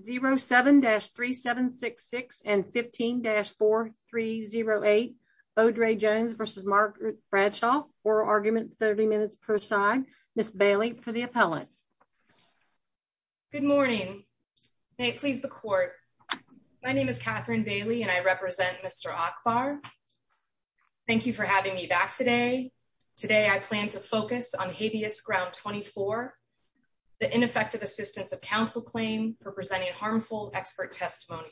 07-3766 and 15-4308 Odraye Jones versus Margaret Bradshaw oral arguments 30 minutes per side Ms. Bailey for the appellant. Good morning may it please the court my name is Catherine Bailey and I represent Mr. Ackbar. Thank you for having me back today. Today I plan to focus on habeas ground 24 the ineffective assistance of counsel claim for presenting harmful expert testimony.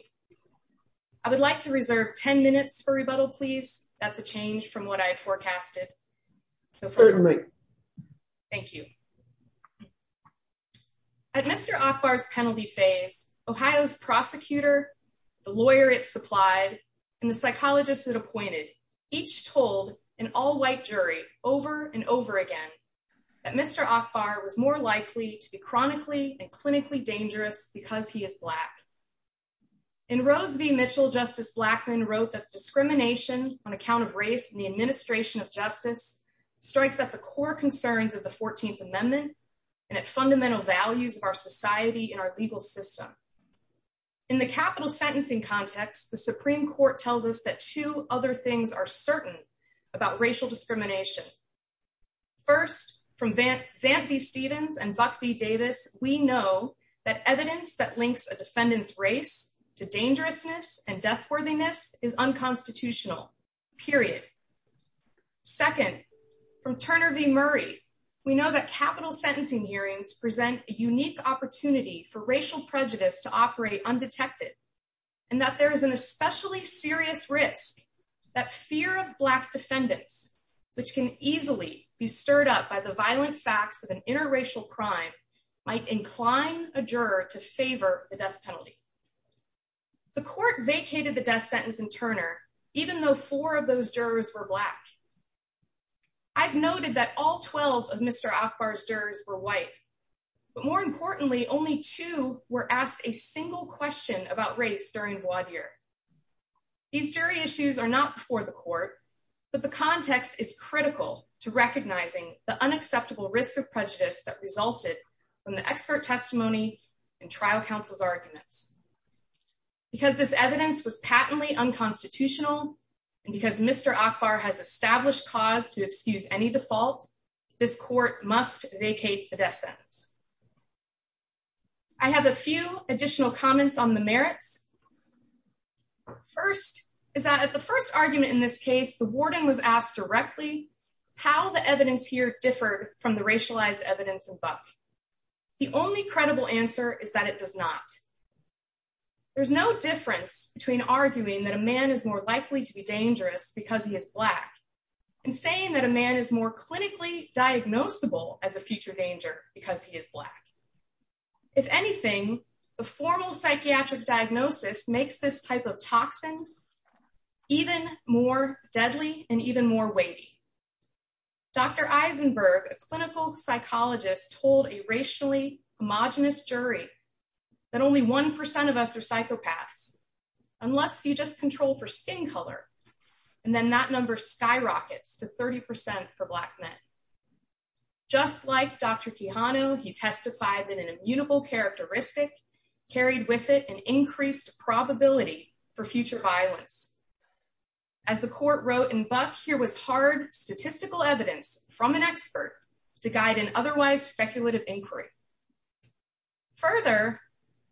I would like to reserve 10 minutes for rebuttal please that's a change from what I had forecasted. Thank you. At Mr. Ackbar's penalty phase Ohio's prosecutor the lawyer it supplied and the was more likely to be chronically and clinically dangerous because he is black. In Rose v Mitchell justice Blackmun wrote that discrimination on account of race and the administration of justice strikes at the core concerns of the 14th amendment and at fundamental values of our society in our legal system. In the capital sentencing context the supreme court tells us that two other things are certain about racial discrimination. First from Zamp v Stevens and Buck v Davis we know that evidence that links a defendant's race to dangerousness and deathworthiness is unconstitutional period. Second from Turner v Murray we know that capital sentencing hearings present a unique opportunity for racial prejudice to operate undetected and that there is an serious risk that fear of black defendants which can easily be stirred up by the violent facts of an interracial crime might incline a juror to favor the death penalty. The court vacated the death sentence in Turner even though four of those jurors were black. I've noted that all 12 of Mr. Ackbar's jurors were white but more importantly only two were asked a single question about race during the court. These jury issues are not before the court but the context is critical to recognizing the unacceptable risk of prejudice that resulted from the expert testimony and trial counsel's arguments. Because this evidence was patently unconstitutional and because Mr. Ackbar has established cause to excuse any default this court must vacate the death sentence. I have a few additional comments on the merits. First is that at the first argument in this case the warden was asked directly how the evidence here differed from the racialized evidence in Buck. The only credible answer is that it does not. There's no difference between arguing that a man is more likely to be dangerous because he is black and saying that a man is more clinically diagnosable as a future danger because he is black. If anything the formal psychiatric diagnosis makes this type of toxin even more deadly and even more weighty. Dr. Eisenberg, a clinical psychologist told a racially homogenous jury that only one percent of us are psychopaths unless you just just like Dr. Quijano he testified that an immutable characteristic carried with it an increased probability for future violence. As the court wrote in Buck here was hard statistical evidence from an expert to guide an otherwise speculative inquiry. Further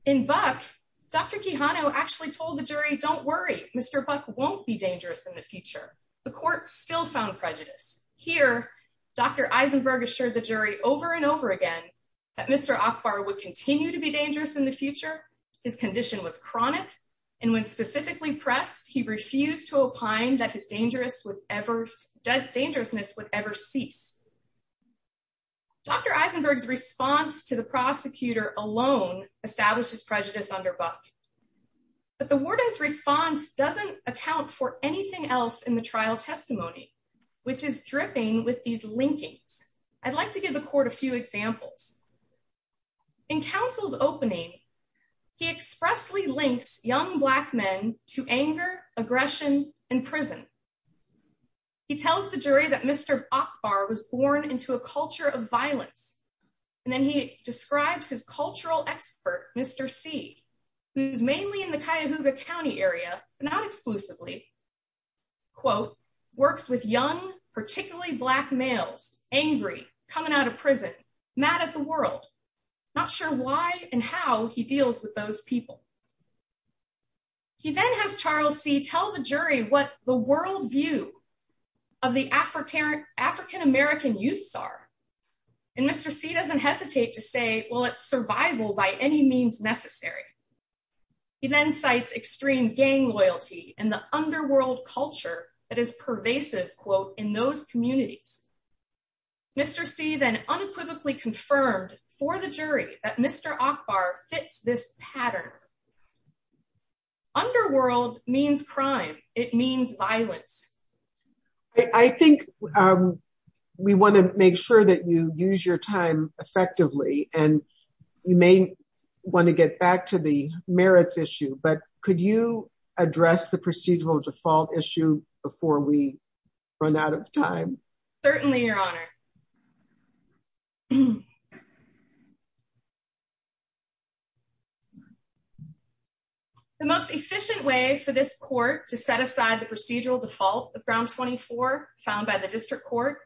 in Buck Dr. Quijano actually told the jury don't worry Mr. Buck won't be dangerous in the future. The court still found prejudice. Here Dr. Eisenberg assured the jury over and over again that Mr. Akbar would continue to be dangerous in the future. His condition was chronic and when specifically pressed he refused to opine that his dangerousness would ever cease. Dr. Eisenberg's response to the prosecutor alone establishes prejudice under Buck. But the warden's response doesn't account for anything else in the trial testimony which is dripping with these linkings. I'd like to give the court a few examples. In counsel's opening he expressly links young black men to anger aggression and prison. He tells the jury that Mr. Akbar was born into a culture of violence and then he describes his cultural expert Mr. C who's mainly in the Cuyahoga County area but not exclusively quote works with young particularly black males angry coming out of prison mad at the world not sure why and how he deals with those people. He then has Charles C tell the jury what the world view of the African American youths are and Mr. C doesn't hesitate to say well it's survival by any means necessary. He then cites extreme gang loyalty and the underworld culture that is pervasive quote in those communities. Mr. C then unequivocally confirmed for the jury that Mr. Akbar fits this you use your time effectively and you may want to get back to the merits issue but could you address the procedural default issue before we run out of time? The most efficient way for this court to set aside the procedural default of ground 24 found by the district court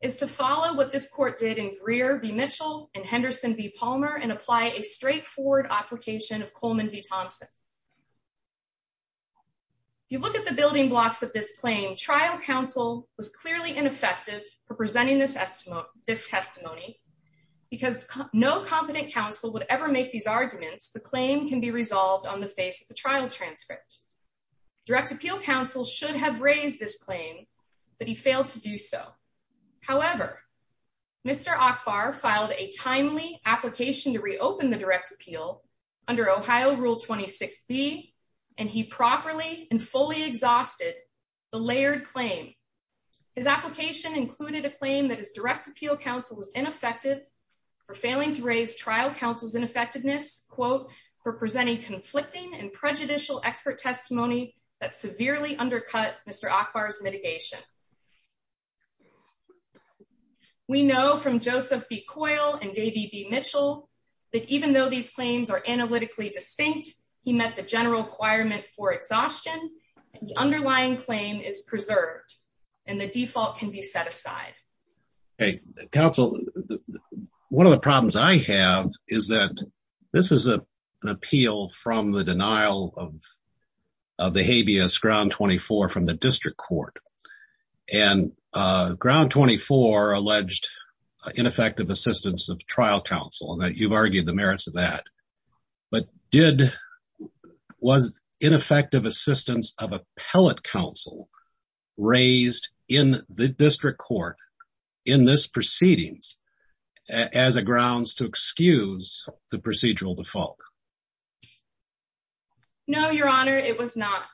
is to follow what this court did in Greer v. Mitchell and Henderson v. Palmer and apply a straightforward application of Coleman v. Thompson. You look at the building blocks of this claim trial counsel was clearly ineffective for presenting this testimony because no competent counsel would ever make these arguments the claim can be resolved on the face of the trial transcript. Direct appeal counsel should have raised this claim but he failed to do so. However Mr. Akbar filed a timely application to reopen the direct appeal under Ohio rule 26b and he properly and fully exhausted the layered claim. His application included a claim that his direct appeal counsel was ineffective for failing to raise trial counsel's ineffectiveness quote for presenting conflicting and prejudicial expert testimony that severely undercut Mr. Akbar's mitigation. We know from Joseph B. Coyle and Davey B. Mitchell that even though these claims are analytically distinct he met the general requirement for exhaustion the underlying claim is preserved and the default can be set aside. Okay counsel one of the problems I have is that this is a an appeal from the denial of of the habeas ground 24 from the district court and ground 24 alleged ineffective assistance of trial counsel and that you've argued the merits of that but did was ineffective assistance of appellate counsel raised in the district court in this proceedings as a grounds to excuse the procedural default? No your honor it was not.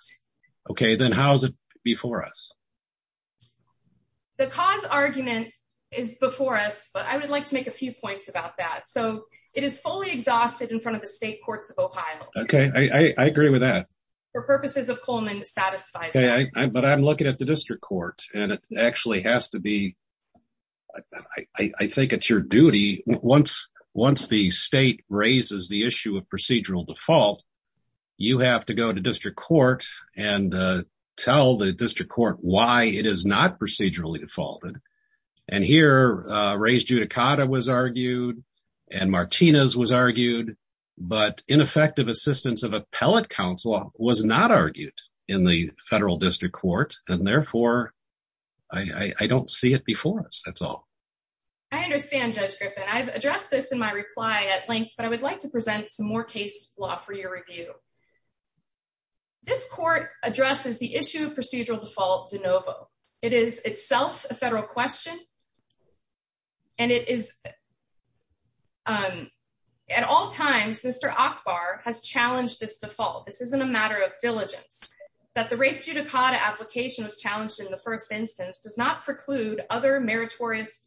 Okay then how is it before us? The cause argument is before us but I would like to make a few points about that so it is fully exhausted in front of the state courts of Ohio. Okay I agree with that. For purposes of I think it's your duty once the state raises the issue of procedural default you have to go to district court and tell the district court why it is not procedurally defaulted and here raised judicata was argued and Martinez was argued but ineffective assistance of appellate counsel was not argued in the federal district court and therefore I I don't see it before us that's all. I understand judge Griffin I've addressed this in my reply at length but I would like to present some more case law for your review. This court addresses the issue of procedural default de novo it is itself a federal question and it is um at all times Mr. Ackbar has challenged this default this isn't a matter of diligence that the race judicata application was challenged in the first instance does not preclude other meritorious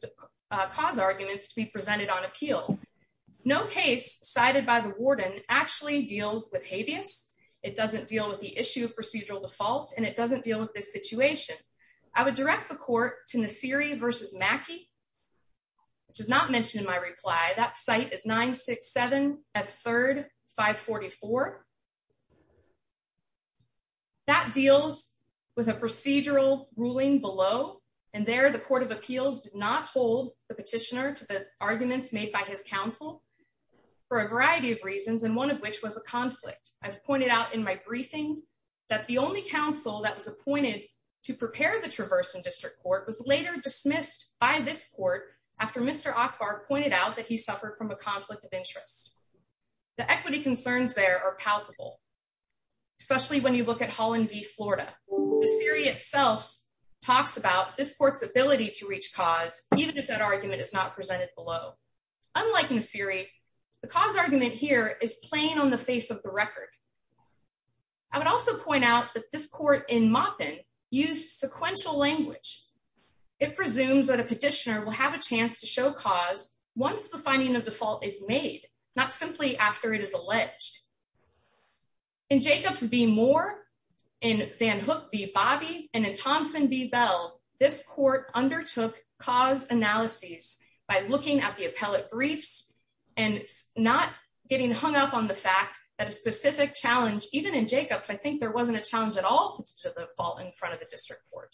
cause arguments to be presented on appeal. No case cited by the warden actually deals with habeas it doesn't deal with the issue of procedural default and it doesn't deal with this situation. I would direct the court to Nasiri versus Mackey which is not mentioned in my reply that site is 967 at 3rd 544. That deals with a procedural ruling below and there the court of appeals did not hold the petitioner to the arguments made by his counsel for a variety of reasons and one of which was a conflict. I've pointed out in my briefing that the only counsel that was appointed to prepare the this court after Mr. Ackbar pointed out that he suffered from a conflict of interest. The equity concerns there are palpable especially when you look at Holland v Florida. Nasiri itself talks about this court's ability to reach cause even if that argument is not presented below. Unlike Nasiri the cause argument here is plain on the face of the record. I would also point out that this court in Maupin used sequential language. It presumes that a petitioner will have a chance to show cause once the finding of the fault is made not simply after it is alleged. In Jacobs v Moore in Van Hook v Bobby and in Thompson v Bell this court undertook cause analyses by looking at the appellate briefs and not getting hung up on the fact that a challenge even in Jacobs I think there wasn't a challenge at all to the fault in front of the district court.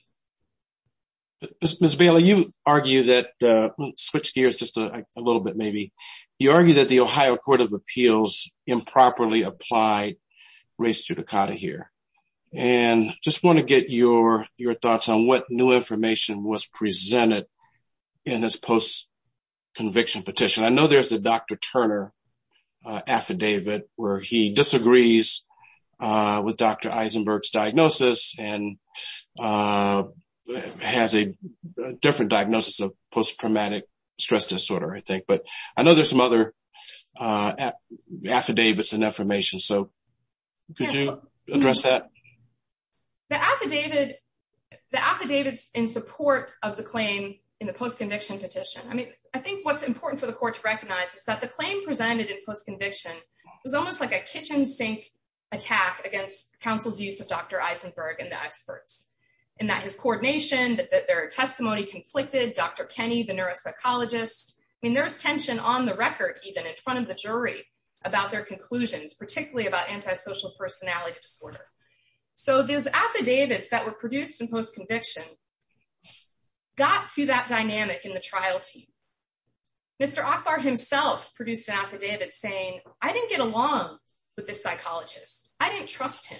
Ms. Bailey you argue that switch gears just a little bit maybe you argue that the Ohio court of appeals improperly applied race judicata here and just want to get your thoughts on what new information was presented in this post conviction petition. I know there's a Dr. Eisenberg's diagnosis and has a different diagnosis of post traumatic stress disorder I think but I know there's some other affidavits and affirmations so could you address that? The affidavits in support of the claim in the post conviction petition I mean I think what's important for the court to recognize is that the claim presented in post conviction was almost like a kitchen sink attack against counsel's use of Dr. Eisenberg and the experts and that his coordination that their testimony conflicted Dr. Kenny the neuropsychologist I mean there's tension on the record even in front of the jury about their conclusions particularly about antisocial personality disorder. So those affidavits that were produced in post conviction got to that with the psychologist I didn't trust him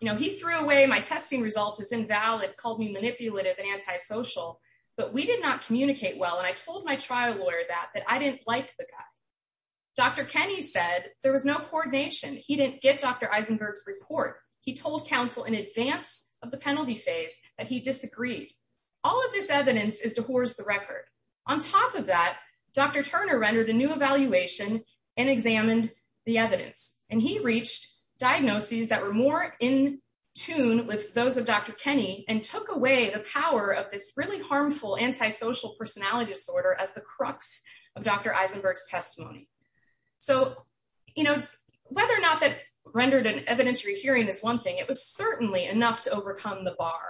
you know he threw away my testing results as invalid called me manipulative and antisocial but we did not communicate well and I told my trial lawyer that that I didn't like the guy Dr. Kenny said there was no coordination he didn't get Dr. Eisenberg's report he told counsel in advance of the penalty phase that he disagreed all of this evidence is the record on top of that Dr. Turner rendered a new evaluation and examined the evidence and he reached diagnoses that were more in tune with those of Dr. Kenny and took away the power of this really harmful antisocial personality disorder as the crux of Dr. Eisenberg's testimony. So you know whether or not that rendered an evidentiary hearing is one thing it was certainly enough to overcome the bar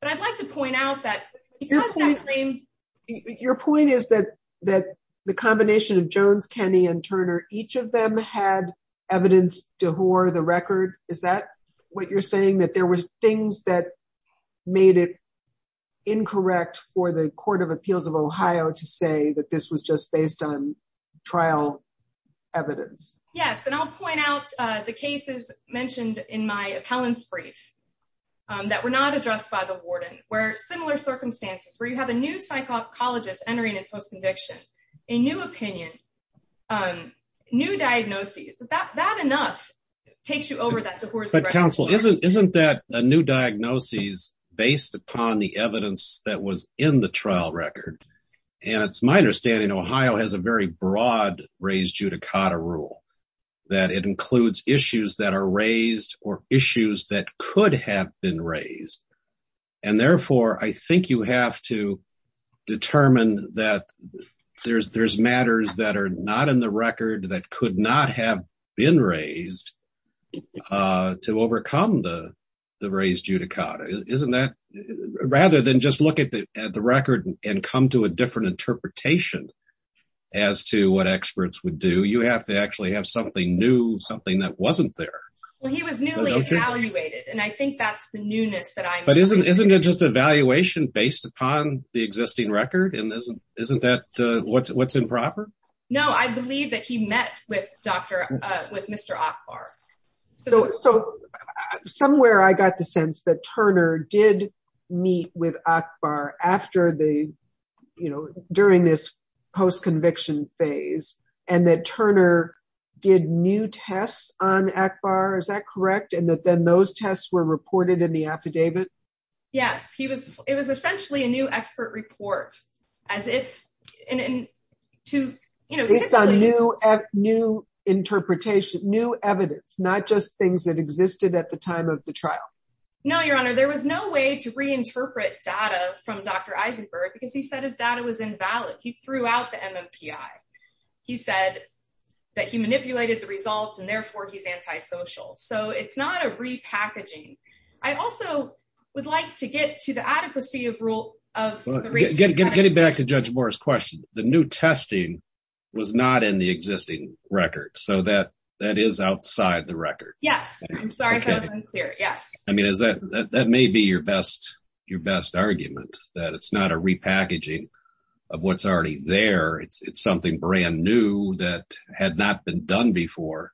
but I'd like to point out that because your point is that that the combination of Jones, Kenny, and Turner each of them had evidence to whore the record is that what you're saying that there were things that made it incorrect for the court of appeals of Ohio to say that this was just based on trial evidence. Yes and I'll point out the cases mentioned in my appellant's brief that were not addressed by the warden where similar circumstances where you have a new psychologist entering in post-conviction, a new opinion, new diagnoses that that enough takes you over that. But counsel isn't isn't that a new diagnosis based upon the evidence that was in the trial record and it's my understanding Ohio has a very raised or issues that could have been raised and therefore I think you have to determine that there's there's matters that are not in the record that could not have been raised to overcome the the raised judicata. Isn't that rather than just look at the at the record and come to a different interpretation as to what experts would do you have to actually have something new something that wasn't there. Well he was newly evaluated and I think that's the newness that I'm but isn't isn't it just evaluation based upon the existing record and isn't isn't that uh what's what's improper? No I believe that he met with Dr uh with Mr. Akbar. So so somewhere I got the sense that Turner did meet with Akbar after the you know during this post-conviction phase and that Turner did new tests on Akbar is that correct and that then those tests were reported in the affidavit? Yes he was it was essentially a new expert report as if and and to you know based on new new interpretation new evidence not just things that existed at the time of the trial. No your honor there was no way to reinterpret data from Dr. Eisenberg because he said his data was invalid. He threw out the MMPI. He said that he manipulated the results and therefore he's antisocial. So it's not a repackaging. I also would like to get to the adequacy of rule of getting back to Judge Moore's question. The new testing was not in the existing record so that that is outside the record. Yes I'm sorry that unclear yes. I mean is that that may be your best your best argument that it's not a repackaging of what's already there. It's it's something brand new that had not been done before.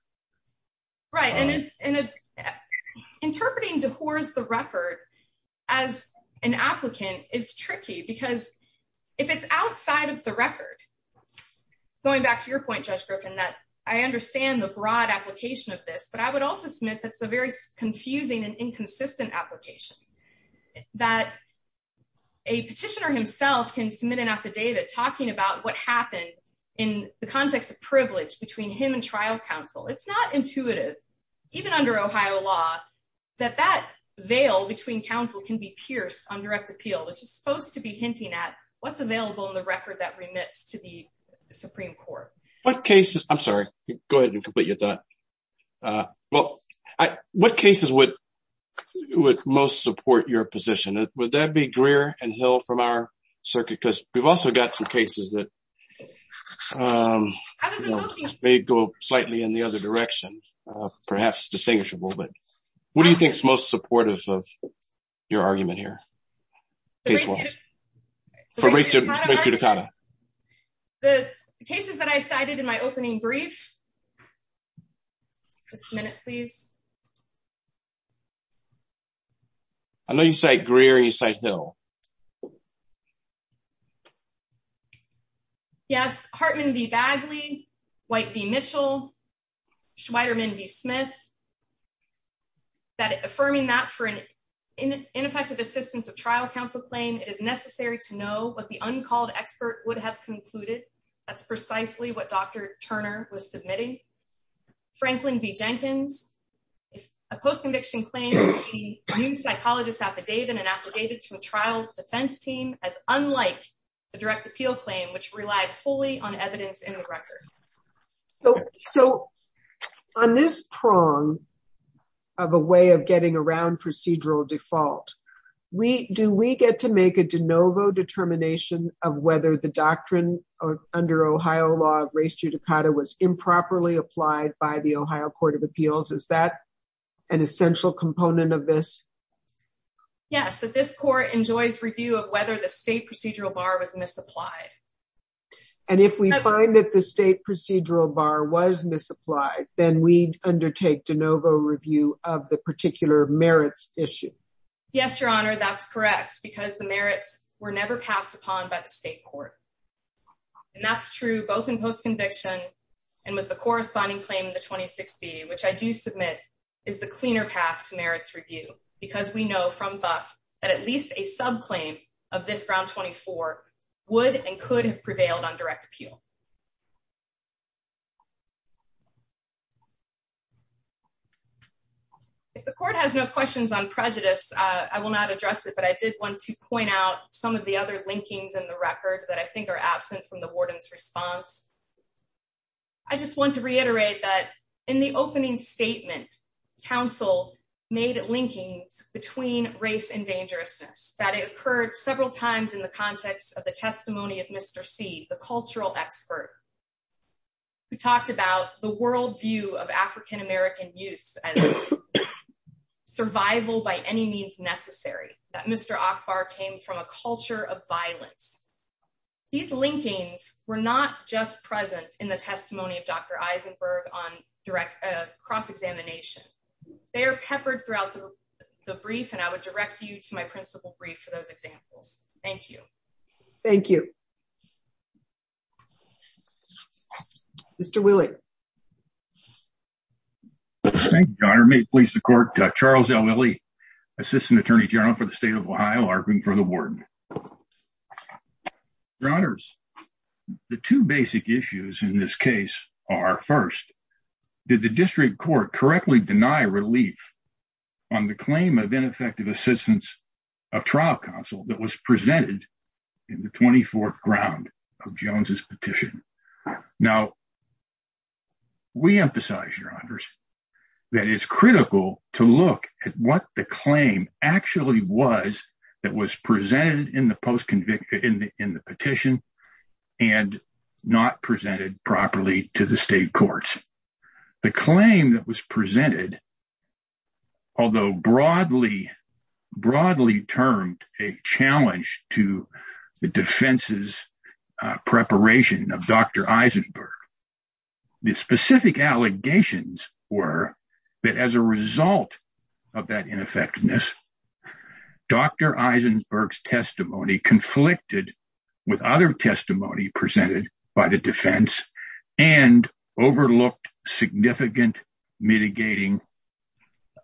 Right and interpreting DeHore's the record as an applicant is tricky because if it's outside of the record going back to your point Judge Griffin that I understand the broad application of this but I would also submit that's a very confusing and inconsistent application that a petitioner himself can submit an affidavit talking about what happened in the context of privilege between him and trial counsel. It's not intuitive even under Ohio law that that veil between counsel can be pierced on direct appeal which is supposed to be hinting at what's available in the record that remits to the Supreme Court. What cases I'm sorry go ahead and complete your thought uh well I what cases would would most support your position would that be Greer and Hill from our circuit because we've also got some cases that um they go slightly in the other direction uh perhaps distinguishable but what do you think is most supportive of your argument here case one for race judicata the cases that I cited in my opening brief just a minute please I know you say Greer and you say Hill yes Hartman v Bagley, White v Mitchell, Schweiderman v Smith that affirming that for an ineffective assistance of trial counsel claim it is necessary to know what the uncalled expert would have concluded that's precisely what Dr. Turner was submitting Franklin v Jenkins if a post-conviction claim a new psychologist affidavit and affidavit to the trial defense team as unlike the direct appeal claim which relied wholly on evidence in the record so so on this prong of a way of getting around procedural default we do we get to make a de novo determination of whether the doctrine of under Ohio law of race judicata was improperly applied by the Ohio court of appeals is that an essential component of this yes that this court enjoys review of whether the state procedural bar was misapplied and if we find that the state procedural bar was misapplied then we undertake de novo review of the particular merits issue yes your honor that's correct because the merits were never passed upon by the state court and that's true both in post-conviction and with the corresponding claim in the 26b which I do submit is the cleaner path to merits review because we know from buck that at least a subclaim of this ground 24 would and could have prevailed on direct appeal if the court has no questions on prejudice I will not address it but I did want to point out some of the other linkings in the record that I think are absent from the warden's response I just want to reiterate that in the opening statement council made linkings between race and dangerousness that it occurred several times in the context of the testimony of mr c the cultural expert who talked about the world view of african-american youth and survival by any means that mr akbar came from a culture of violence these linkings were not just present in the testimony of dr eisenberg on direct cross-examination they are peppered throughout the brief and I would direct you to my principal brief for those examples thank you thank you mr willie thank you your honor may it please the court charles l willie assistant attorney general for the state of ohio arguing for the warden your honors the two basic issues in this case are first did the district court correctly deny relief on the claim of ineffective assistance of trial counsel that was presented in the 24th ground of jones's petition now we emphasize your honors that it's critical to look at what the claim actually was that was presented in the post convicted in the in the petition and not presented properly to the state courts the claim that was presented although broadly broadly termed a challenge to the defense's preparation of dr eisenberg the specific allegations were that as a result of that ineffectiveness dr eisenberg's testimony conflicted with other testimony presented by the and overlooked significant mitigating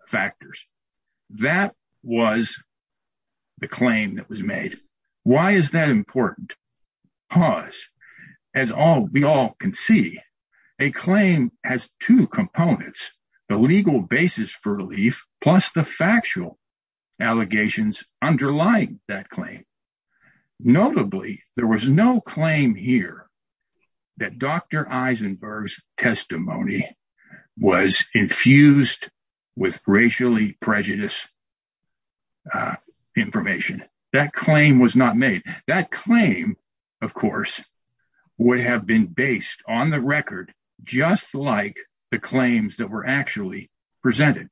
factors that was the claim that was made why is that important pause as all we all can see a claim has two components the legal basis for relief plus the factual allegations underlying that claim notably there was no claim here that dr eisenberg's testimony was infused with racially prejudiced information that claim was not made that claim of course would have been based on the record just like the claims that were actually presented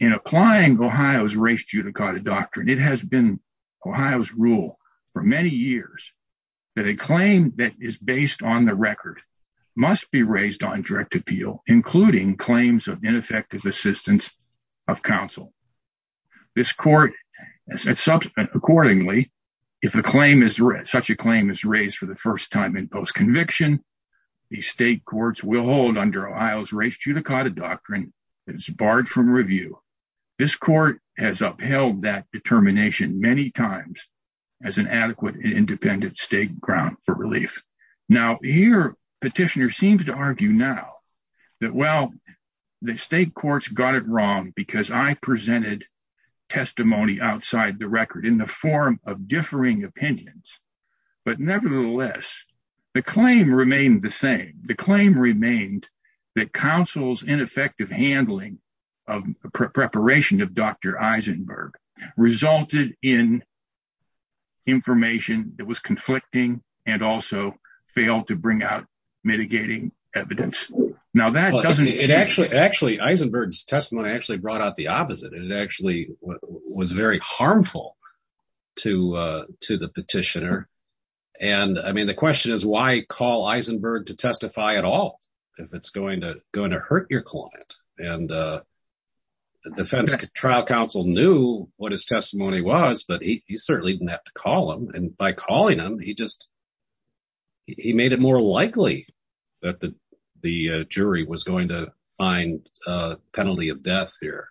in applying ohio's race judicata doctrine it has been ohio's rule for many years that a claim that is based on the record must be raised on direct appeal including claims of ineffective assistance of counsel this court as such accordingly if a claim is such a claim is raised for the first time in post conviction the state courts will hold under ohio's race judicata doctrine that is barred from review this court has upheld that determination many times as an adequate and independent state ground for relief now here petitioner seems to argue now that well the state courts got it wrong because i presented testimony outside the record in the form of differing opinions but nevertheless the claim remained the same the claim remained that counsel's ineffective handling of preparation of dr eisenberg resulted in information that was conflicting and also failed to bring out mitigating evidence now that doesn't it actually actually eisenberg's testimony actually brought out the opposite and it actually was very harmful to uh to the petitioner and i the question is why call eisenberg to testify at all if it's going to going to hurt your client and uh the defense trial counsel knew what his testimony was but he certainly didn't have to call him and by calling him he just he made it more likely that the the jury was going to find a penalty of death here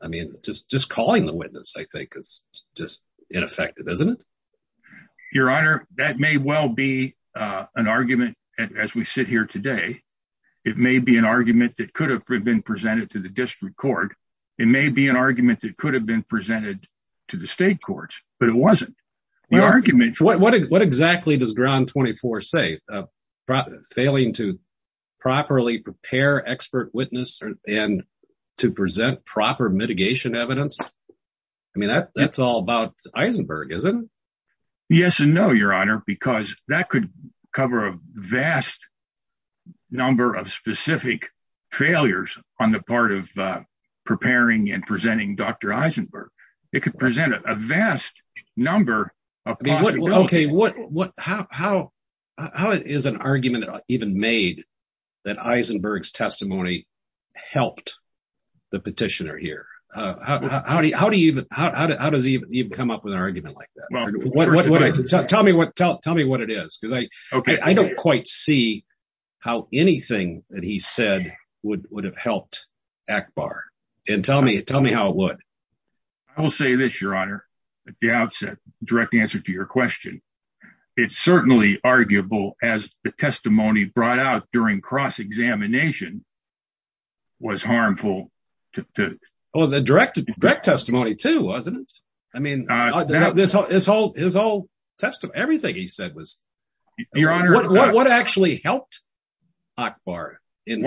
i mean just just calling the witness i think is just ineffective isn't it your honor that may well be uh an argument as we sit here today it may be an argument that could have been presented to the district court it may be an argument that could have been presented to the state courts but it wasn't the argument what exactly does ground 24 say failing to properly prepare expert witness and to present proper mitigation evidence i mean that that's all about eisenberg isn't yes and no your honor because that could cover a vast number of specific failures on the part of uh preparing and presenting dr eisenberg it could present a vast number of okay what what how how how is an argument even made that eisenberg's how do you how does he even come up with an argument like that well what what i said tell me what tell tell me what it is because i okay i don't quite see how anything that he said would would have helped akbar and tell me tell me how it would i will say this your honor the outset direct answer to your question it's certainly arguable as the testimony brought out during cross-examination was harmful to oh the direct direct testimony too wasn't it i mean this whole his whole test of everything he said was your honor what actually helped akbar in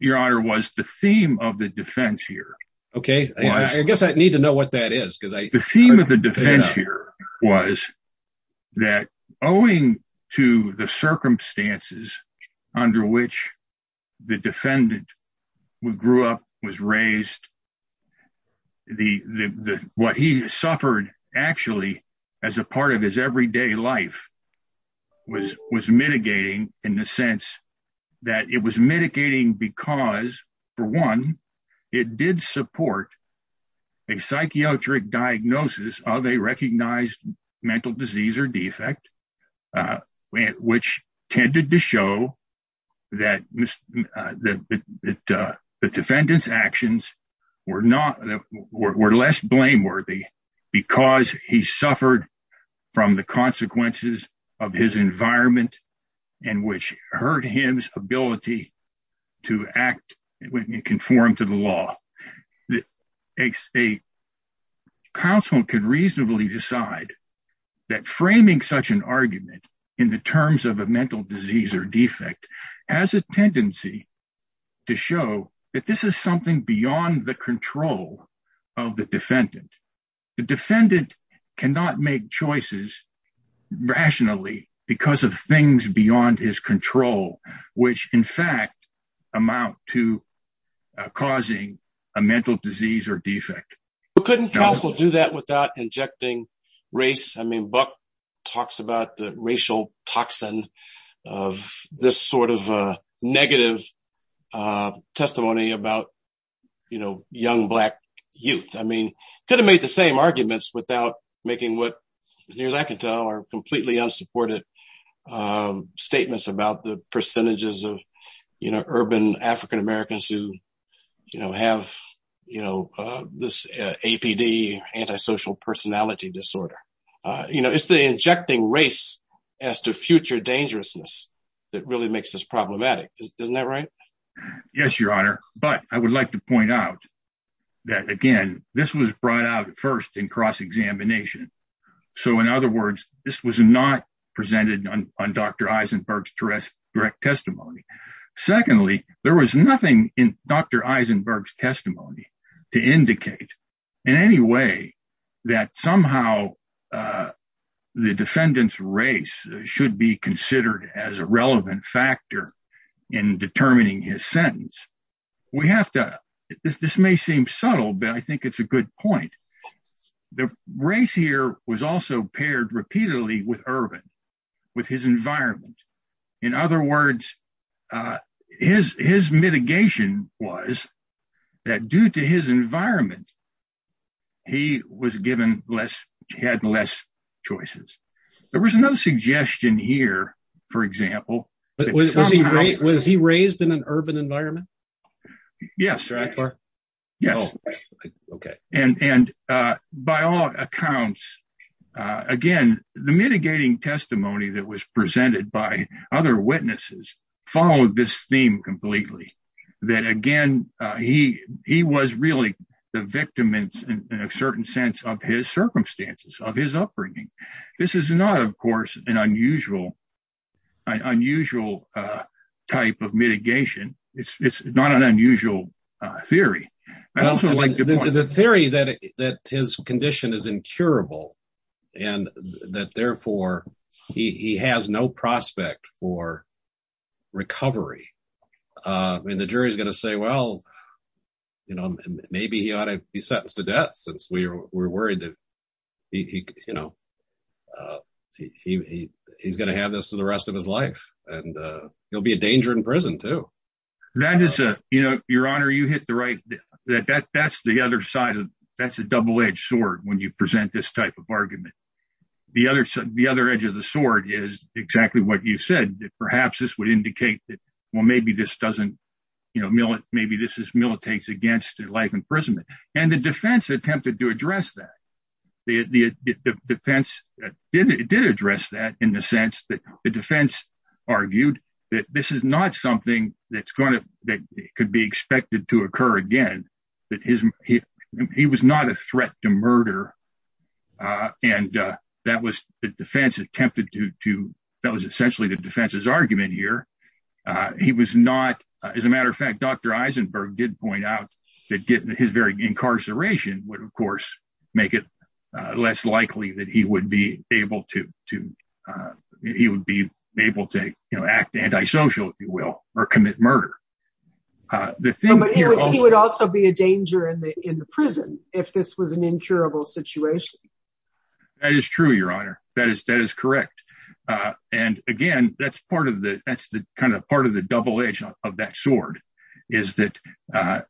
your honor was the theme of the defense here okay i guess i need to know what that is because i the theme of the circumstances under which the defendant grew up was raised the the what he suffered actually as a part of his everyday life was was mitigating in the sense that it was mitigating because for one it did support a psychiatric diagnosis of a recognized mental disease or defect uh which tended to show that that that uh the defendant's actions were not that were less blameworthy because he suffered from the consequences of his environment and which hurt him's ability to act and conform to the law that a state could reasonably decide that framing such an argument in the terms of a mental disease or defect has a tendency to show that this is something beyond the control of the defendant the defendant cannot make choices rationally because of things beyond his control which in fact amount to causing a mental disease or defect but couldn't also do that without injecting race i mean buck talks about the racial toxin of this sort of uh negative uh testimony about you know young black youth i mean could have made the same arguments without making what years i can tell are completely unsupported um statements about the percentages of you know urban african-americans who you know have you know uh this apd antisocial personality disorder uh you know it's the injecting race as the future dangerousness that really makes this problematic isn't that right yes your honor but i would like to point out that again this was brought out at first in cross-examination so in other words this was not presented on dr secondly there was nothing in dr eisenberg's testimony to indicate in any way that somehow the defendant's race should be considered as a relevant factor in determining his sentence we have to this may seem subtle but i think it's a good point the race here was also paired repeatedly with urban with his environment in other words uh his his mitigation was that due to his environment he was given less had less choices there was no suggestion here for example but was he great was he raised in an urban environment yes right yes okay and and uh by all accounts uh again the mitigating testimony that was presented by other witnesses followed this theme completely that again uh he he was really the victim in a certain sense of his circumstances of his upbringing this is not of course an unusual unusual uh type of mitigation it's it's not an unusual uh theory i also like the theory that that his condition is incurable and that therefore he he has no prospect for recovery uh i mean the jury's going to say well you know maybe he ought to be sentenced to death since we were worried that he you know uh he he he's going to have this for the rest of his life and uh he'll be a danger in prison too that is a you know your honor you hit the right that that that's the other side of that's a double-edged sword when you present this type of argument the other side the other edge of the sword is exactly what you said that perhaps this would indicate that well maybe this doesn't you know maybe this is militates against life imprisonment and the defense attempted to address that the the defense did it did address that in the sense that the defense argued that this is not something that's going to that could be expected to occur again that his he he was not a threat to murder uh and uh that was the defense attempted to to that was essentially the defense's argument here uh he was not as a matter of fact dr eisenberg did point out that getting his very incarceration would of course make it uh less likely that he would be able to to uh he would be able to you know act anti-social if you will or commit murder uh the thing would also be a danger in the in the prison if this was an incurable situation that is true your honor that is that is correct uh and again that's part of the that's the kind of part of the double edge of that sword is that uh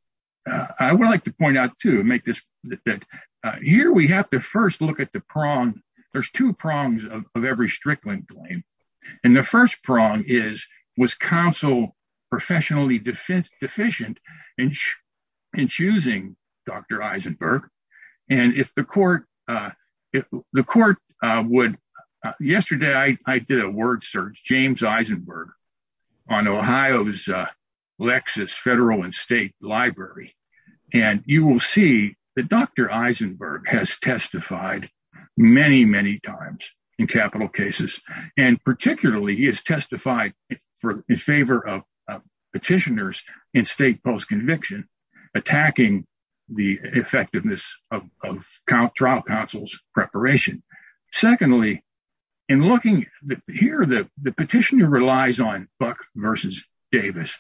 i would like to point out to make this that uh here we have to first look at the prong there's two prongs of every strickland claim and the first prong is was counsel professionally defense deficient in in choosing dr eisenberg and if the court uh the court uh would yesterday i i did a word search james eisenberg on ohio's uh lexus federal and library and you will see that dr eisenberg has testified many many times in capital cases and particularly he has testified for in favor of petitioners in state post-conviction attacking the effectiveness of trial counsel's preparation secondly in looking here the the petitioner relies on buck versus davis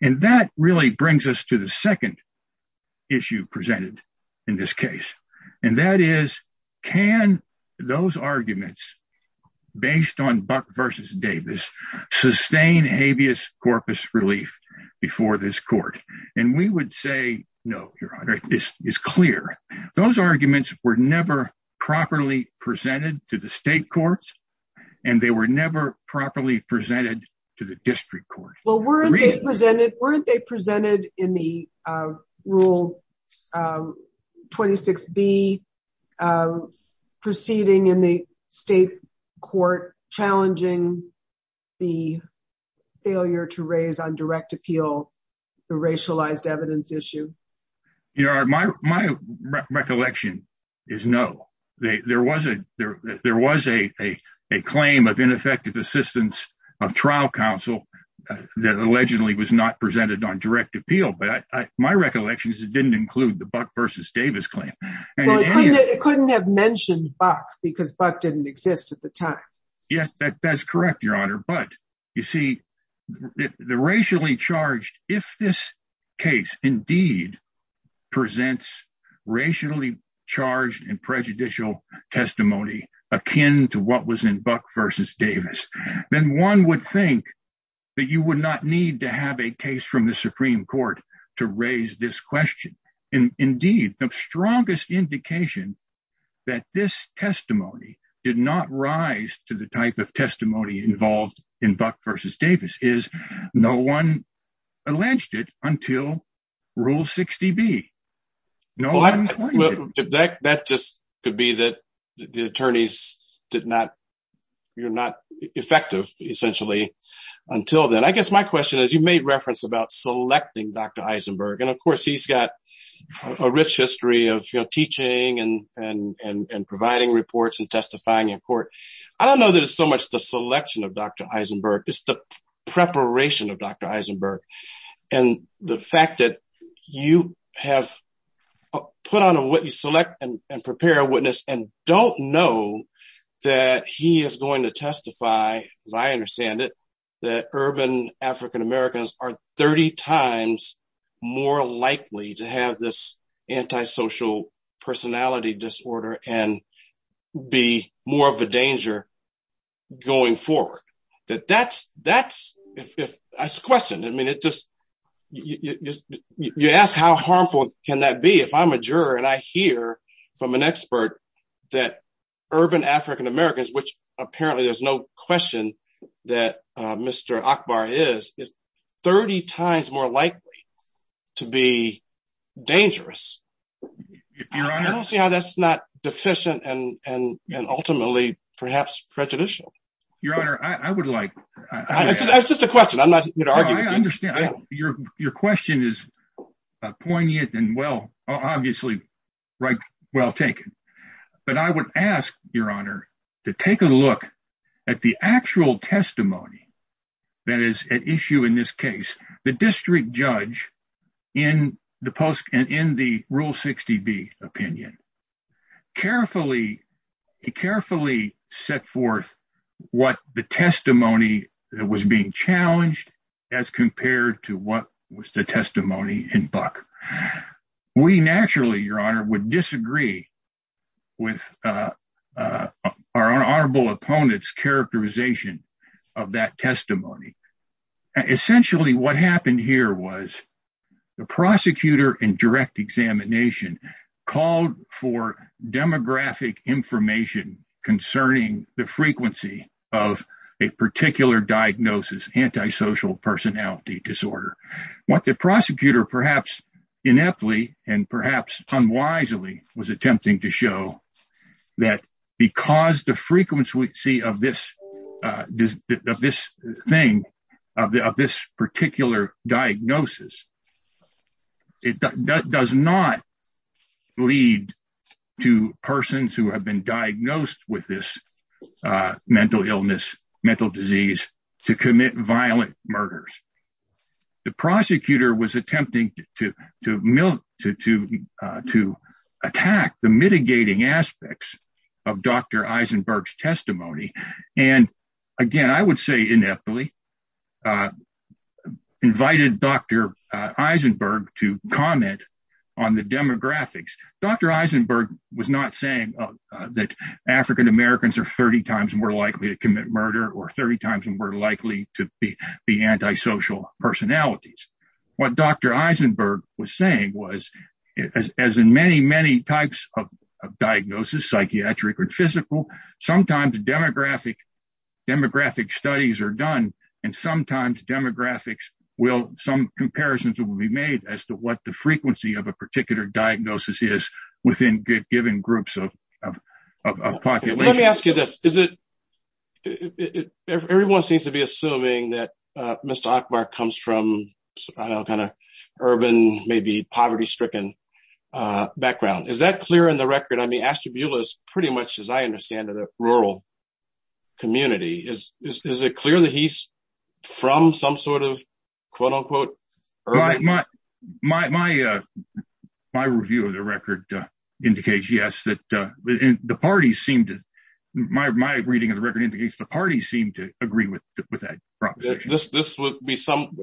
and that really brings us to the second issue presented in this case and that is can those arguments based on buck versus davis sustain habeas corpus relief before this court and we would say no your honor this is clear those arguments were never properly presented to the state courts and they were never properly presented to the district court well weren't they presented weren't they presented in the uh rule uh 26b uh proceeding in the state court challenging the failure to raise on direct appeal the racialized evidence issue you know my my recollection is no there was a there was a a claim of ineffective assistance of trial counsel that allegedly was not presented on direct appeal but i my recollection is it didn't include the buck versus davis claim it couldn't have mentioned buck because buck didn't exist at the time yes that's correct your honor but you see the racially charged if this case indeed presents racially charged and prejudicial testimony akin to what was in buck versus davis then one would think that you would not need to have a case from the supreme court to raise this question and indeed the strongest indication that this testimony did not rise to type of testimony involved in buck versus davis is no one alleged it until rule 60b no that just could be that the attorneys did not you're not effective essentially until then i guess my question is you made reference about selecting dr eisenberg and of course he's got a rich history of you know teaching and and and providing reports and testifying in court i don't know that it's so much the selection of dr eisenberg it's the preparation of dr eisenberg and the fact that you have put on what you select and prepare a witness and don't know that he is going to testify as i understand it that urban african americans are 30 times more likely to have this anti-social personality disorder and be more of a danger going forward that that's that's if that's questioned i mean it just you just you ask how harmful can that be if i'm a juror and i hear from an expert that urban african americans which apparently there's no question that uh mr akbar is 30 times more likely to be dangerous i don't see how that's not deficient and and and ultimately perhaps prejudicial your honor i i would like it's just a question i'm not going to argue i understand your your question is poignant and well obviously right well taken but i would ask your honor to take a look at the actual testimony that is at issue in this case the district judge in the post and in the rule 60b opinion carefully carefully set forth what the testimony that was being challenged as compared to what was the testimony in buck we naturally your honor would disagree with uh uh our honorable opponent's characterization of that testimony essentially what happened here was the prosecutor in direct examination called for demographic information concerning the frequency of a particular diagnosis anti-social personality disorder what the prosecutor perhaps ineptly and perhaps unwisely was attempting to show that because the frequency of this uh of this thing of this particular diagnosis it does not lead to persons who have been diagnosed with this uh mental illness mental disease to commit violent murders the prosecutor was attempting to to milk to to to attack the mitigating aspects of dr eisenberg's testimony and again i would say ineptly invited dr eisenberg to comment on the demographics dr eisenberg was not saying that african-americans are 30 times more likely to commit murder or 30 times more likely to be the anti-social personalities what dr eisenberg was saying was as in many many types of diagnosis psychiatric or physical sometimes demographic demographic studies are done and sometimes demographics will some comparisons will be made as to what the frequency of a particular diagnosis is within given groups of of population let me ask you this is it everyone seems to be assuming that uh mr ackbar comes from i don't know kind of urban maybe poverty stricken uh background is that clear in the record i mean ashtabula is pretty much as i understand it a rural community is is review of the record uh indicates yes that uh the parties seem to my my reading of the record indicates the parties seem to agree with with that proposition this this would be some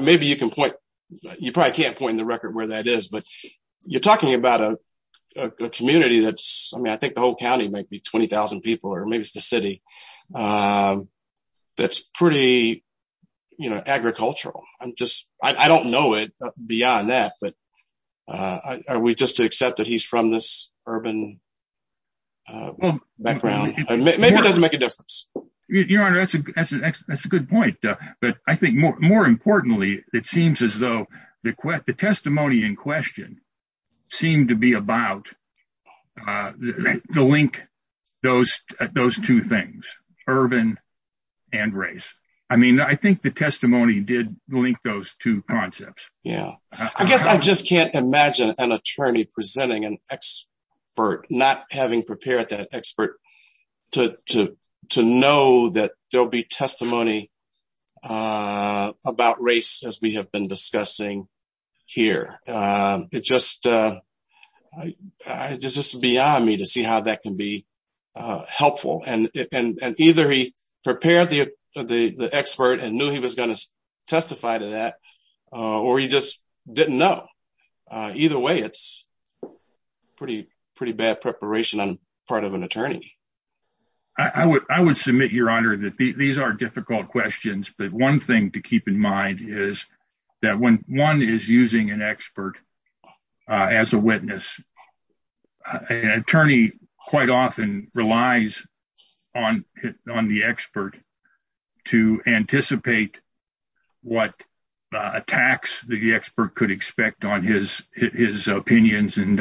maybe you can point you probably can't point the record where that is but you're talking about a a community that's i mean i think the whole county might be 20 000 people or maybe it's the city um that's pretty you know agricultural i'm just i don't know it beyond that but uh are we just to accept that he's from this urban uh background maybe it doesn't make a difference your honor that's a that's a that's a good point uh but i think more more importantly it seems as though the quest the i mean i think the testimony did link those two concepts yeah i guess i just can't imagine an attorney presenting an expert not having prepared that expert to to to know that there'll be testimony uh about race as we have been discussing here um it just uh i it's just beyond me to see how that can be uh helpful and and either he prepared the the the expert and knew he was going to testify to that uh or he just didn't know uh either way it's pretty pretty bad preparation on part of an attorney i would i would submit your honor that these are difficult questions but one thing to keep in mind is that when one is using an expert uh as a witness an attorney quite often relies on on the expert to anticipate what attacks the expert could expect on his his opinions and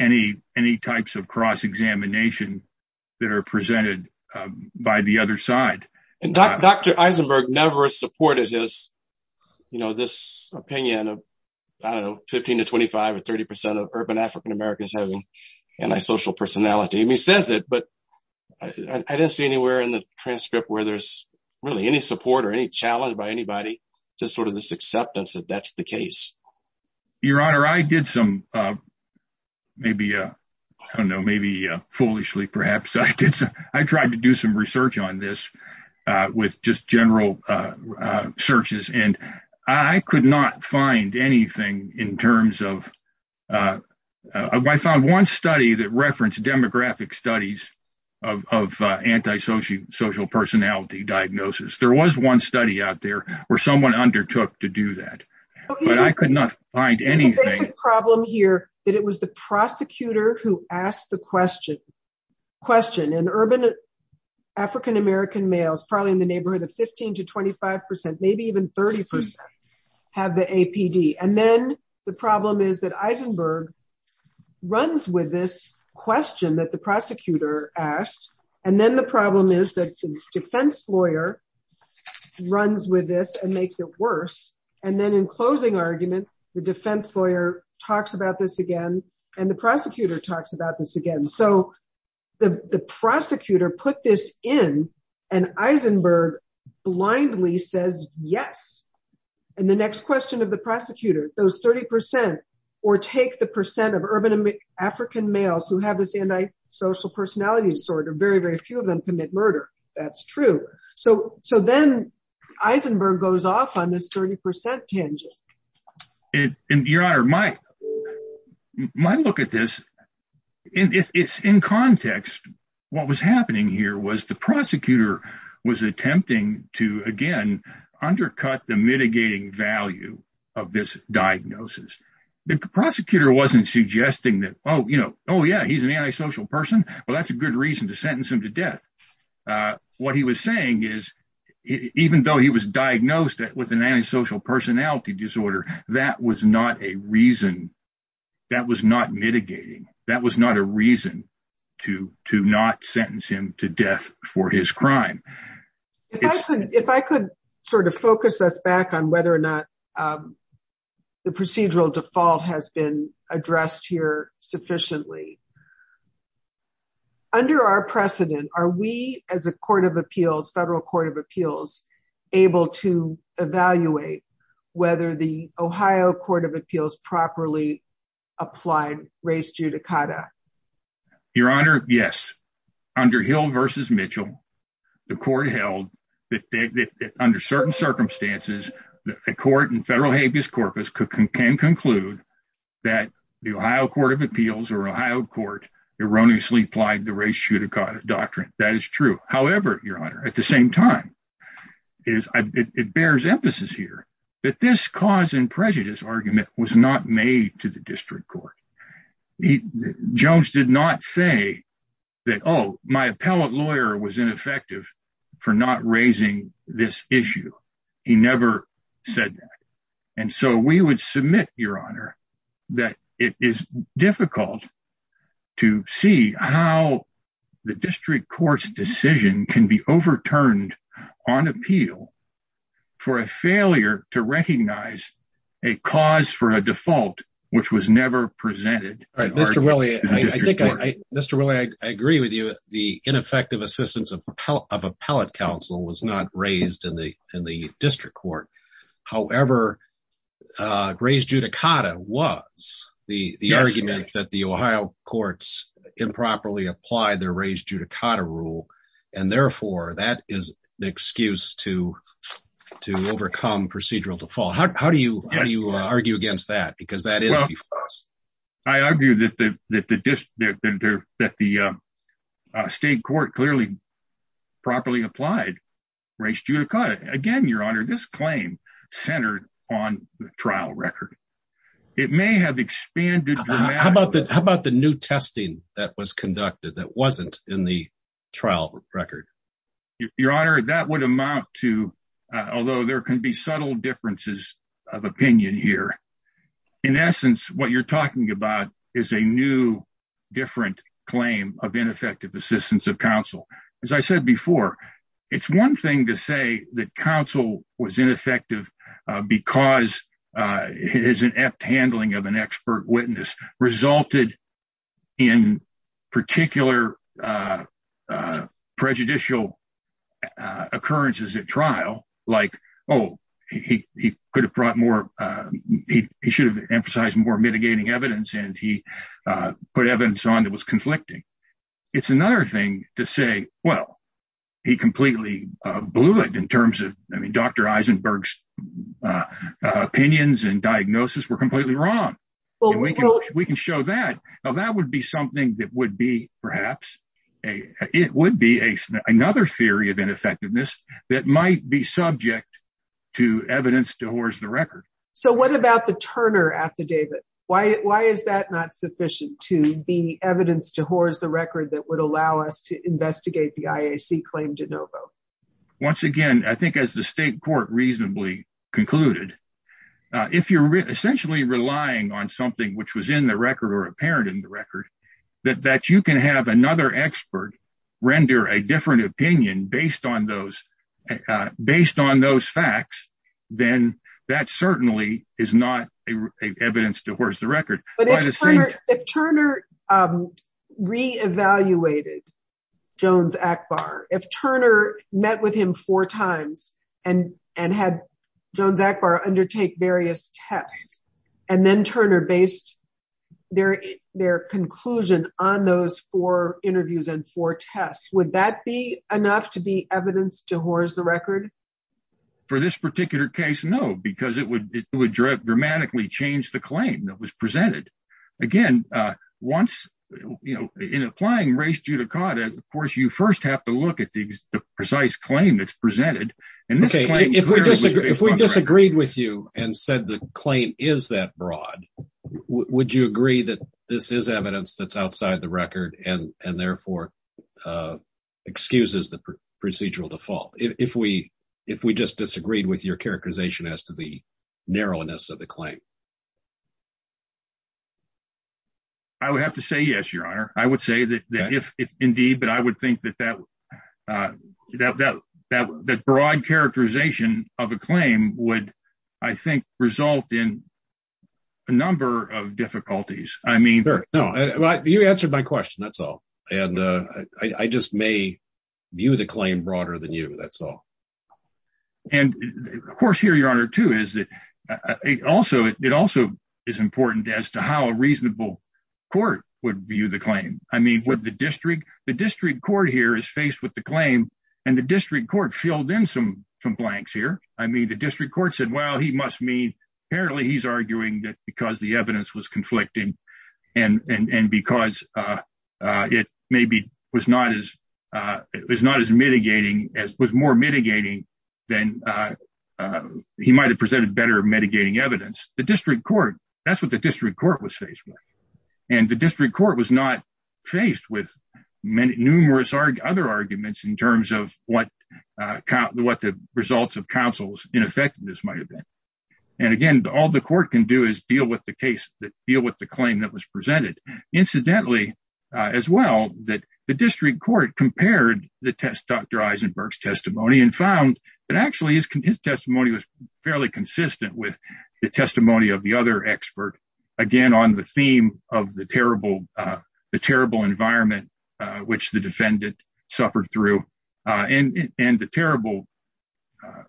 any any types of cross-examination that are presented by the other side and dr eisenberg never supported his you know this opinion of i don't know 15 to 25 or 30 percent of urban african-americans having antisocial personality and he says it but i didn't see anywhere in the transcript where there's really any support or any challenge by anybody just sort of this acceptance that that's the case your honor i did some uh maybe uh i don't know maybe uh foolishly perhaps i did so i tried to do some research on this uh with just general uh searches and i could not find anything in terms of uh i found one study that referenced demographic studies of of antisocial social personality diagnosis there was one study out there where someone undertook to do that but i could not find anything problem here that it was the prosecutor who asked the question question in urban african-american males probably in the neighborhood of 15 to 25 maybe even 30 have the apd and then the problem is that eisenberg runs with this question that prosecutor asked and then the problem is that the defense lawyer runs with this and makes it worse and then in closing argument the defense lawyer talks about this again and the prosecutor talks about this again so the the prosecutor put this in and eisenberg blindly says yes and the next question of the prosecutor those 30 percent or take the percent of urban african males who have antisocial personality disorder very very few of them commit murder that's true so so then eisenberg goes off on this 30 percent tangent and your honor my my look at this and it's in context what was happening here was the prosecutor was attempting to again undercut the mitigating value of this diagnosis the prosecutor wasn't suggesting that oh you know oh yeah he's an antisocial person well that's a good reason to sentence him to death uh what he was saying is even though he was diagnosed with an antisocial personality disorder that was not a reason that was not mitigating that was not a reason to to not sentence him to death for his crime if i could if i could sort of focus us back on whether or not um the procedural default has been addressed here sufficiently under our precedent are we as a court of appeals federal court of appeals able to evaluate whether the ohio court of appeals properly applied race judicata your honor yes under hill versus mitchell the court held that under certain circumstances a court in federal habeas corpus can conclude that the ohio court of appeals or ohio court erroneously applied the race judicata doctrine that is true however your honor at the same time is it bears emphasis here that this cause and prejudice argument was not made to the district court he jones did not say that oh my appellate lawyer was ineffective for not raising this issue he never said that and so we would submit your honor that it is difficult to see how the district court's decision can be overturned on appeal for a failure to recognize a cause for a default which was never presented all right mr willie i think i mr willie i agree with you the ineffective assistance of appellate council was not raised in the in the district court however uh race judicata was the the argument that the ohio courts improperly applied their race judicata rule and therefore that is an excuse to to overcome procedural default how do you how do you argue against that because that is i argue that the that the that the uh state court clearly properly applied race judicata again your honor this claim centered on the trial record it may have expanded how about that how about the new testing that was conducted that wasn't in the trial record your honor that would amount to although there can be subtle differences of opinion here in essence what you're talking about is a new different claim of ineffective assistance of counsel as i said before it's one thing to say that counsel was ineffective because uh it is an apt handling of an expert witness resulted in particular uh uh he he could have brought more uh he he should have emphasized more mitigating evidence and he uh put evidence on that was conflicting it's another thing to say well he completely uh blew it in terms of i mean dr eisenberg's uh opinions and diagnosis were completely wrong we can show that now that would be something that would be perhaps a it would be a another theory of ineffectiveness that might be subject to evidence to horse the record so what about the turner affidavit why why is that not sufficient to be evidence to horse the record that would allow us to investigate the iac claim de novo once again i think as the state court reasonably concluded if you're essentially relying on something which was in the record or apparent in the record that that you can have another expert render a different opinion based on those based on those facts then that certainly is not a evidence to horse the record but if turner re-evaluated jones akbar if turner met with him four times and and had jones akbar undertake various tests and then turner based their their conclusion on those four interviews and four tests would that be enough to be evidence to horse the record for this particular case no because it would it would dramatically change the claim that was presented again uh once you know in applying race judicata of course you first have to look at the precise claim that's presented and okay if we disagree if we disagreed with you and said the claim is that broad would you agree that this is evidence that's outside the record and and therefore uh excuses the procedural default if we if we just disagreed with your characterization as to the narrowness of the claim i would have to say yes your honor i would say that that if indeed but i would think that uh that that that broad characterization of a claim would i think result in a number of difficulties i mean no well you answered my question that's all and uh i just may view the claim broader than you that's all and of course here your honor too is that also it also is important as to how a reasonable court would view the claim i mean would the the district court here is faced with the claim and the district court filled in some some blanks here i mean the district court said well he must mean apparently he's arguing that because the evidence was conflicting and and and because uh uh it maybe was not as uh it was not as mitigating as was more mitigating than uh he might have presented better mitigating evidence the district court that's what the district court was faced with and the district court was not faced with numerous other arguments in terms of what uh what the results of counsel's ineffectiveness might have been and again all the court can do is deal with the case that deal with the claim that was presented incidentally uh as well that the district court compared the test dr eisenberg's testimony and found that actually his testimony was fairly consistent with the testimony of the other expert again on the theme of the terrible uh the terrible environment uh which the defendant suffered through uh and and the terrible uh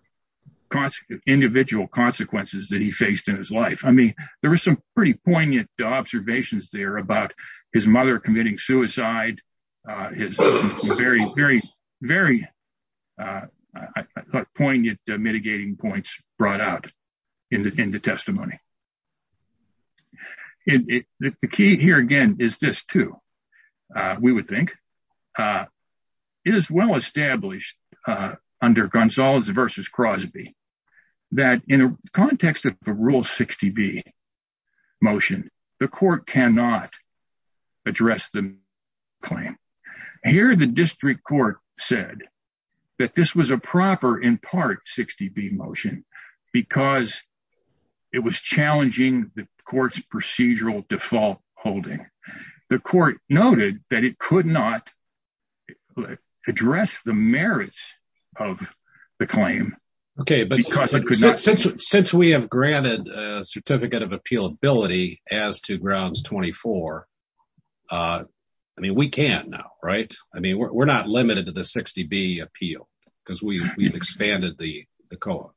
consequence individual consequences that he faced in his life i mean there was some pretty poignant observations there about his mother committing suicide uh his very very very uh i thought poignant mitigating points brought out in the testimony it the key here again is this too uh we would think uh it is well established uh under gonzales versus crosby that in a context of the rule 60b motion the court cannot address the claim here the district court said that this was a proper in part 60b motion because it was challenging the court's procedural default holding the court noted that it could not address the merits of the claim okay but because it could not since since we have granted a uh i mean we can't now right i mean we're not limited to the 60b appeal because we've expanded the the co-op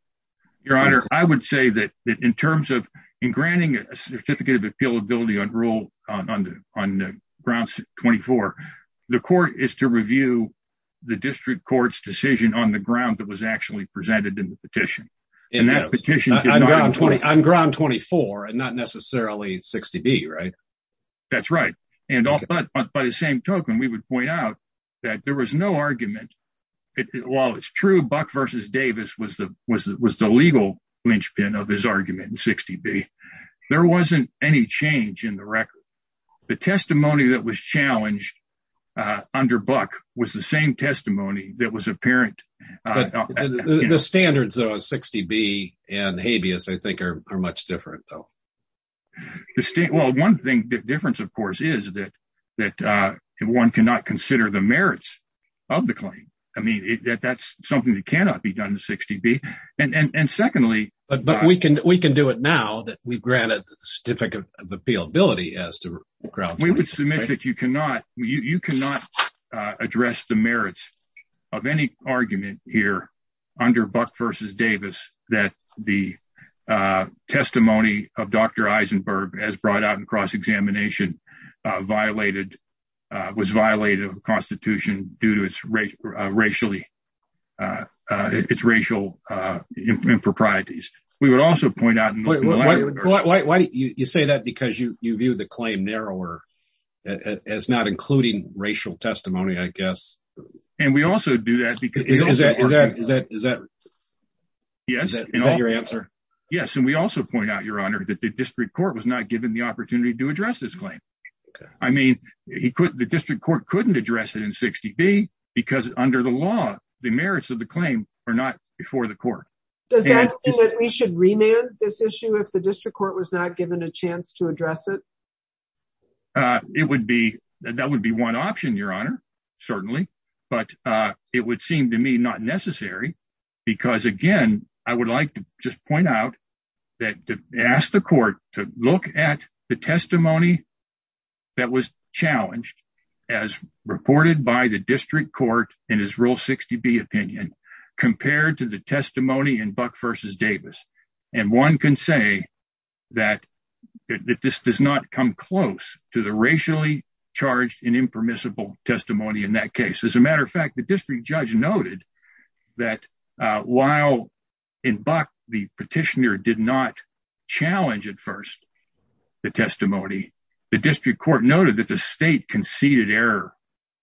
your honor i would say that in terms of in granting a certificate of appealability on rule on the on the grounds 24 the court is to review the district court's decision on the ground that was actually presented in the petition and that petition on ground 24 and not necessarily 60b right that's right and all but by the same token we would point out that there was no argument while it's true buck versus davis was the was was the legal linchpin of his argument in 60b there wasn't any change in the record the testimony that was challenged uh under buck was the same testimony that was apparent but the standards of 60b and habeas i think are much different though the state well one thing the difference of course is that that uh one cannot consider the merits of the claim i mean that's something that cannot be done to 60b and and and secondly but but we can we can do it now that we've granted the certificate of appeal ability as to ground we would submit that you cannot you you cannot address the merits of any argument here under buck versus davis that the uh testimony of dr eisenberg as brought out in cross-examination uh violated uh was violated of the constitution due to its racial uh uh its racial uh improprieties we would also point out why why do you say that because you you view the claim narrower as not including racial testimony i guess and we also do that because is that is that is that yes is that your answer yes and we also point out your honor that the district court was not given the opportunity to address this claim i mean he couldn't the district court couldn't address it in 60b because under the law the merits of the claim are not before the court does that mean that we should remand this issue if the district court was not given a chance to address it uh it would be that would be one option your honor certainly but uh it would seem to me not necessary because again i would like to just point out that to ask the court to look at the testimony that was challenged as reported by the district court in his rule 60b opinion compared to the testimony in buck versus davis and one can say that that this does not come close to the racially charged and impermissible testimony in that case as a matter of fact the district judge noted that uh while in buck the petitioner did not challenge at first the testimony the district court noted that the state conceded error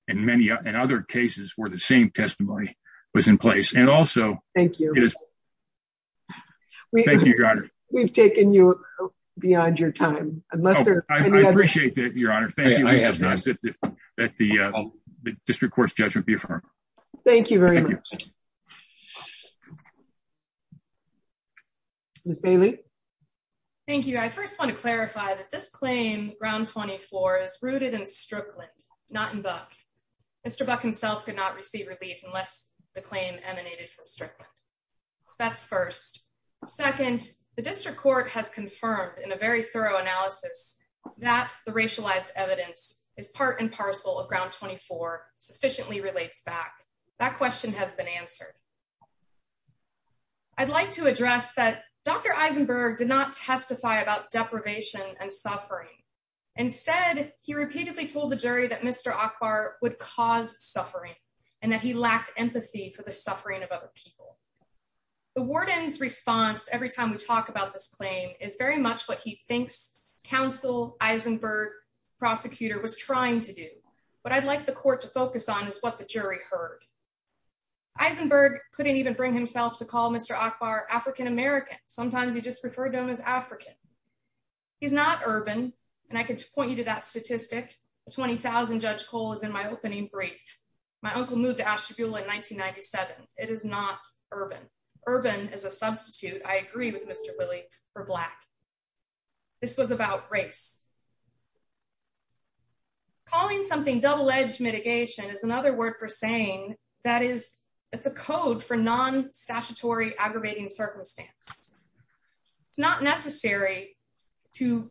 in many other cases where the same testimony was in place and also thank you it is we thank you your honor we've taken you beyond your time unless there i appreciate that your honor thank you i have that the uh the district court's judgment be affirmed thank you very much miss bailey thank you i first want to clarify that this claim ground 24 is rooted in strickland not in buck mr buck himself could not receive relief unless the claim emanated from strickland that's first second the district court has confirmed in a very thorough analysis that the racialized evidence is part and parcel of ground 24 sufficiently relates back that question has been answered i'd like to address that dr eisenberg did not testify about deprivation and suffering instead he repeatedly told the jury that mr akbar would cause suffering and that he lacked empathy for the suffering of other people the warden's response every time we talk about this claim is very much what he thinks counsel eisenberg prosecutor was trying to do but i'd like the court to focus on is what the jury heard eisenberg couldn't even bring himself to call mr akbar african-american sometimes he just referred to him as african he's not urban and i could point you to that statistic the 20 000 judge cole is in my opening brief my uncle moved to ashtabula in 1997 it is not urban urban is a substitute i agree with mr willie for black this was about race calling something double-edged mitigation is another word for saying that is it's a code for non-statutory aggravating circumstance it's not necessary to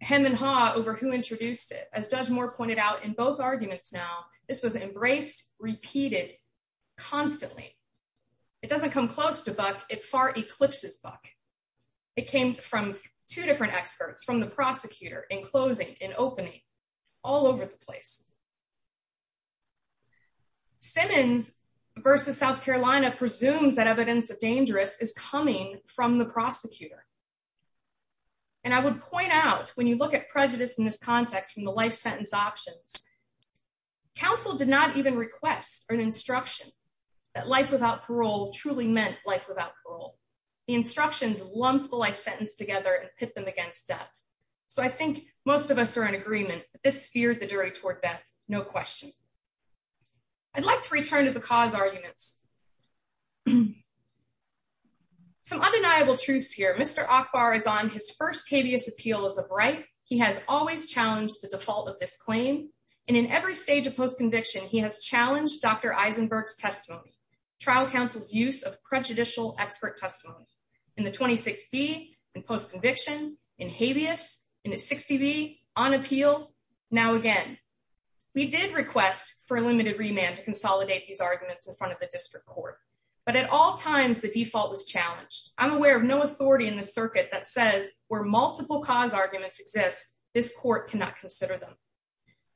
hem and haw over who introduced it as judge moore pointed out in both arguments now this was embraced repeated constantly it doesn't come close to buck it far eclipses buck it came from two different experts from the prosecutor in closing in opening all over the place simmons versus south carolina presumes that evidence of dangerous is coming from the prosecutor and i would point out when you look at prejudice in this context from the life sentence options counsel did not even request an instruction that life without parole truly meant life without parole the instructions lumped the life sentence together and put them against death so i think most of us are in agreement this steered the jury toward death no question i'd like to return to the cause arguments some undeniable truths here mr akbar is on his first habeas appeal as a bright he has always challenged the default of this claim and in every stage of post-conviction he has challenged dr eisenberg's testimony trial counsel's use of prejudicial expert testimony in the 26b and post-conviction in habeas in a 60b on appeal now again we did request for a limited remand to consolidate these arguments in front of the district court but at all times the default was challenged i'm aware of no authority in the circuit that says where multiple cause arguments exist this court cannot consider them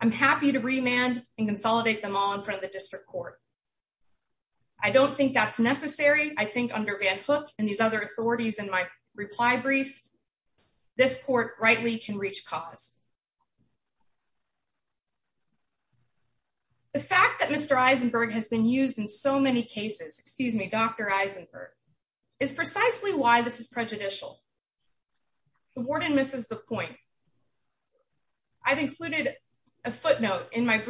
i'm happy to remand and consolidate them all in front of the district court i don't think that's necessary i think under van hook and these other authorities in my reply brief this court rightly can reach cause the fact that mr eisenberg has been used in so many cases excuse me dr eisenberg is precisely why this is prejudicial the warden misses the point i've included a footnote in my to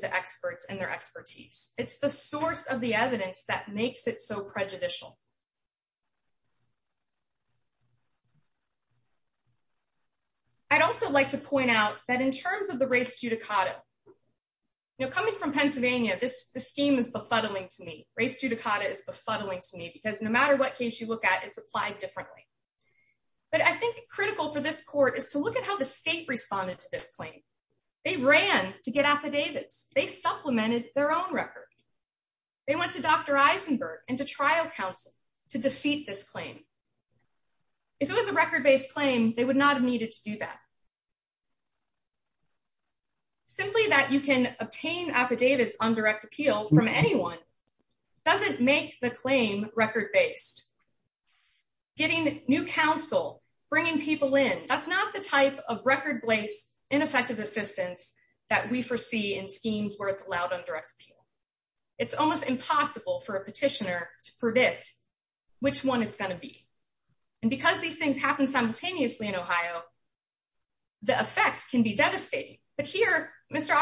the experts in their expertise it's the source of the evidence that makes it so prejudicial i'd also like to point out that in terms of the race judicata you know coming from pennsylvania this scheme is befuddling to me race judicata is befuddling to me because no matter what case you look at it's applied differently but i think critical for this court is to look at how the state responded to this claim they ran to get affidavits they supplemented their own record they went to dr eisenberg and to trial counsel to defeat this claim if it was a record-based claim they would not have needed to do that simply that you can obtain affidavits on direct appeal from anyone doesn't make the claim record-based getting new counsel bringing people in that's not the type of record-based ineffective assistance that we foresee in schemes where it's allowed on direct appeal it's almost impossible for a petitioner to predict which one it's going to be and because these things happen simultaneously in ohio the effect can be devastating but here mr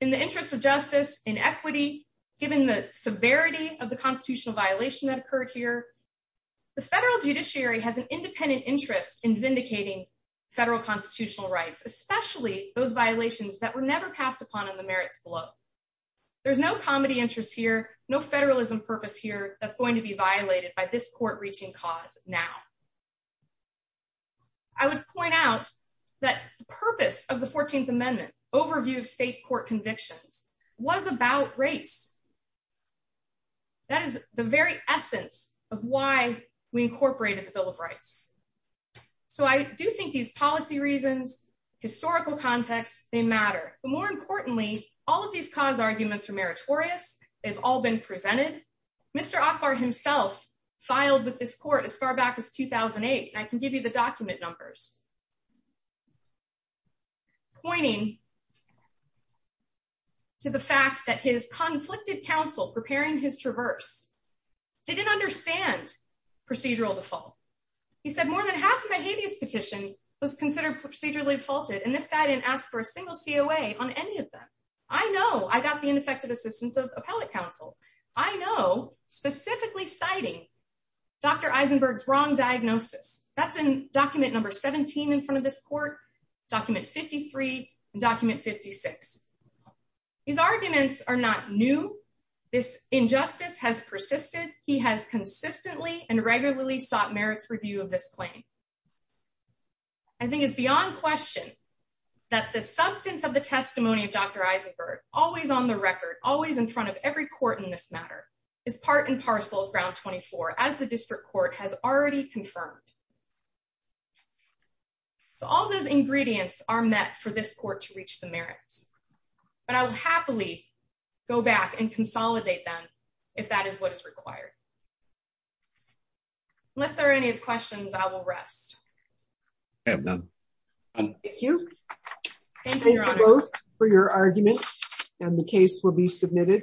in the interest of justice inequity given the severity of the constitutional violation that occurred here the federal judiciary has an independent interest in vindicating federal constitutional rights especially those violations that were never passed upon in the merits below there's no comedy interest here no federalism purpose here that's going to be violated by this court convictions was about race that is the very essence of why we incorporated the bill of rights so i do think these policy reasons historical context they matter but more importantly all of these cause arguments are meritorious they've all been presented mr op bar himself filed with this court as far back as 2008 i can give you the document numbers pointing to the fact that his conflicted counsel preparing his traverse didn't understand procedural default he said more than half of my habeas petition was considered procedurally faulted and this guy didn't ask for a single coa on any of them i know i got the ineffective assistance of appellate counsel i know specifically citing dr eisenberg's wrong diagnosis that's in number 17 in front of this court document 53 and document 56 these arguments are not new this injustice has persisted he has consistently and regularly sought merits review of this claim i think it's beyond question that the substance of the testimony of dr eisenberg always on the record always in front of every court in this matter is part and parcel of ground 24 as the so all those ingredients are met for this court to reach the merits but i will happily go back and consolidate them if that is what is required unless there are any questions i will rest thank you thank you for your argument and the case will be submitted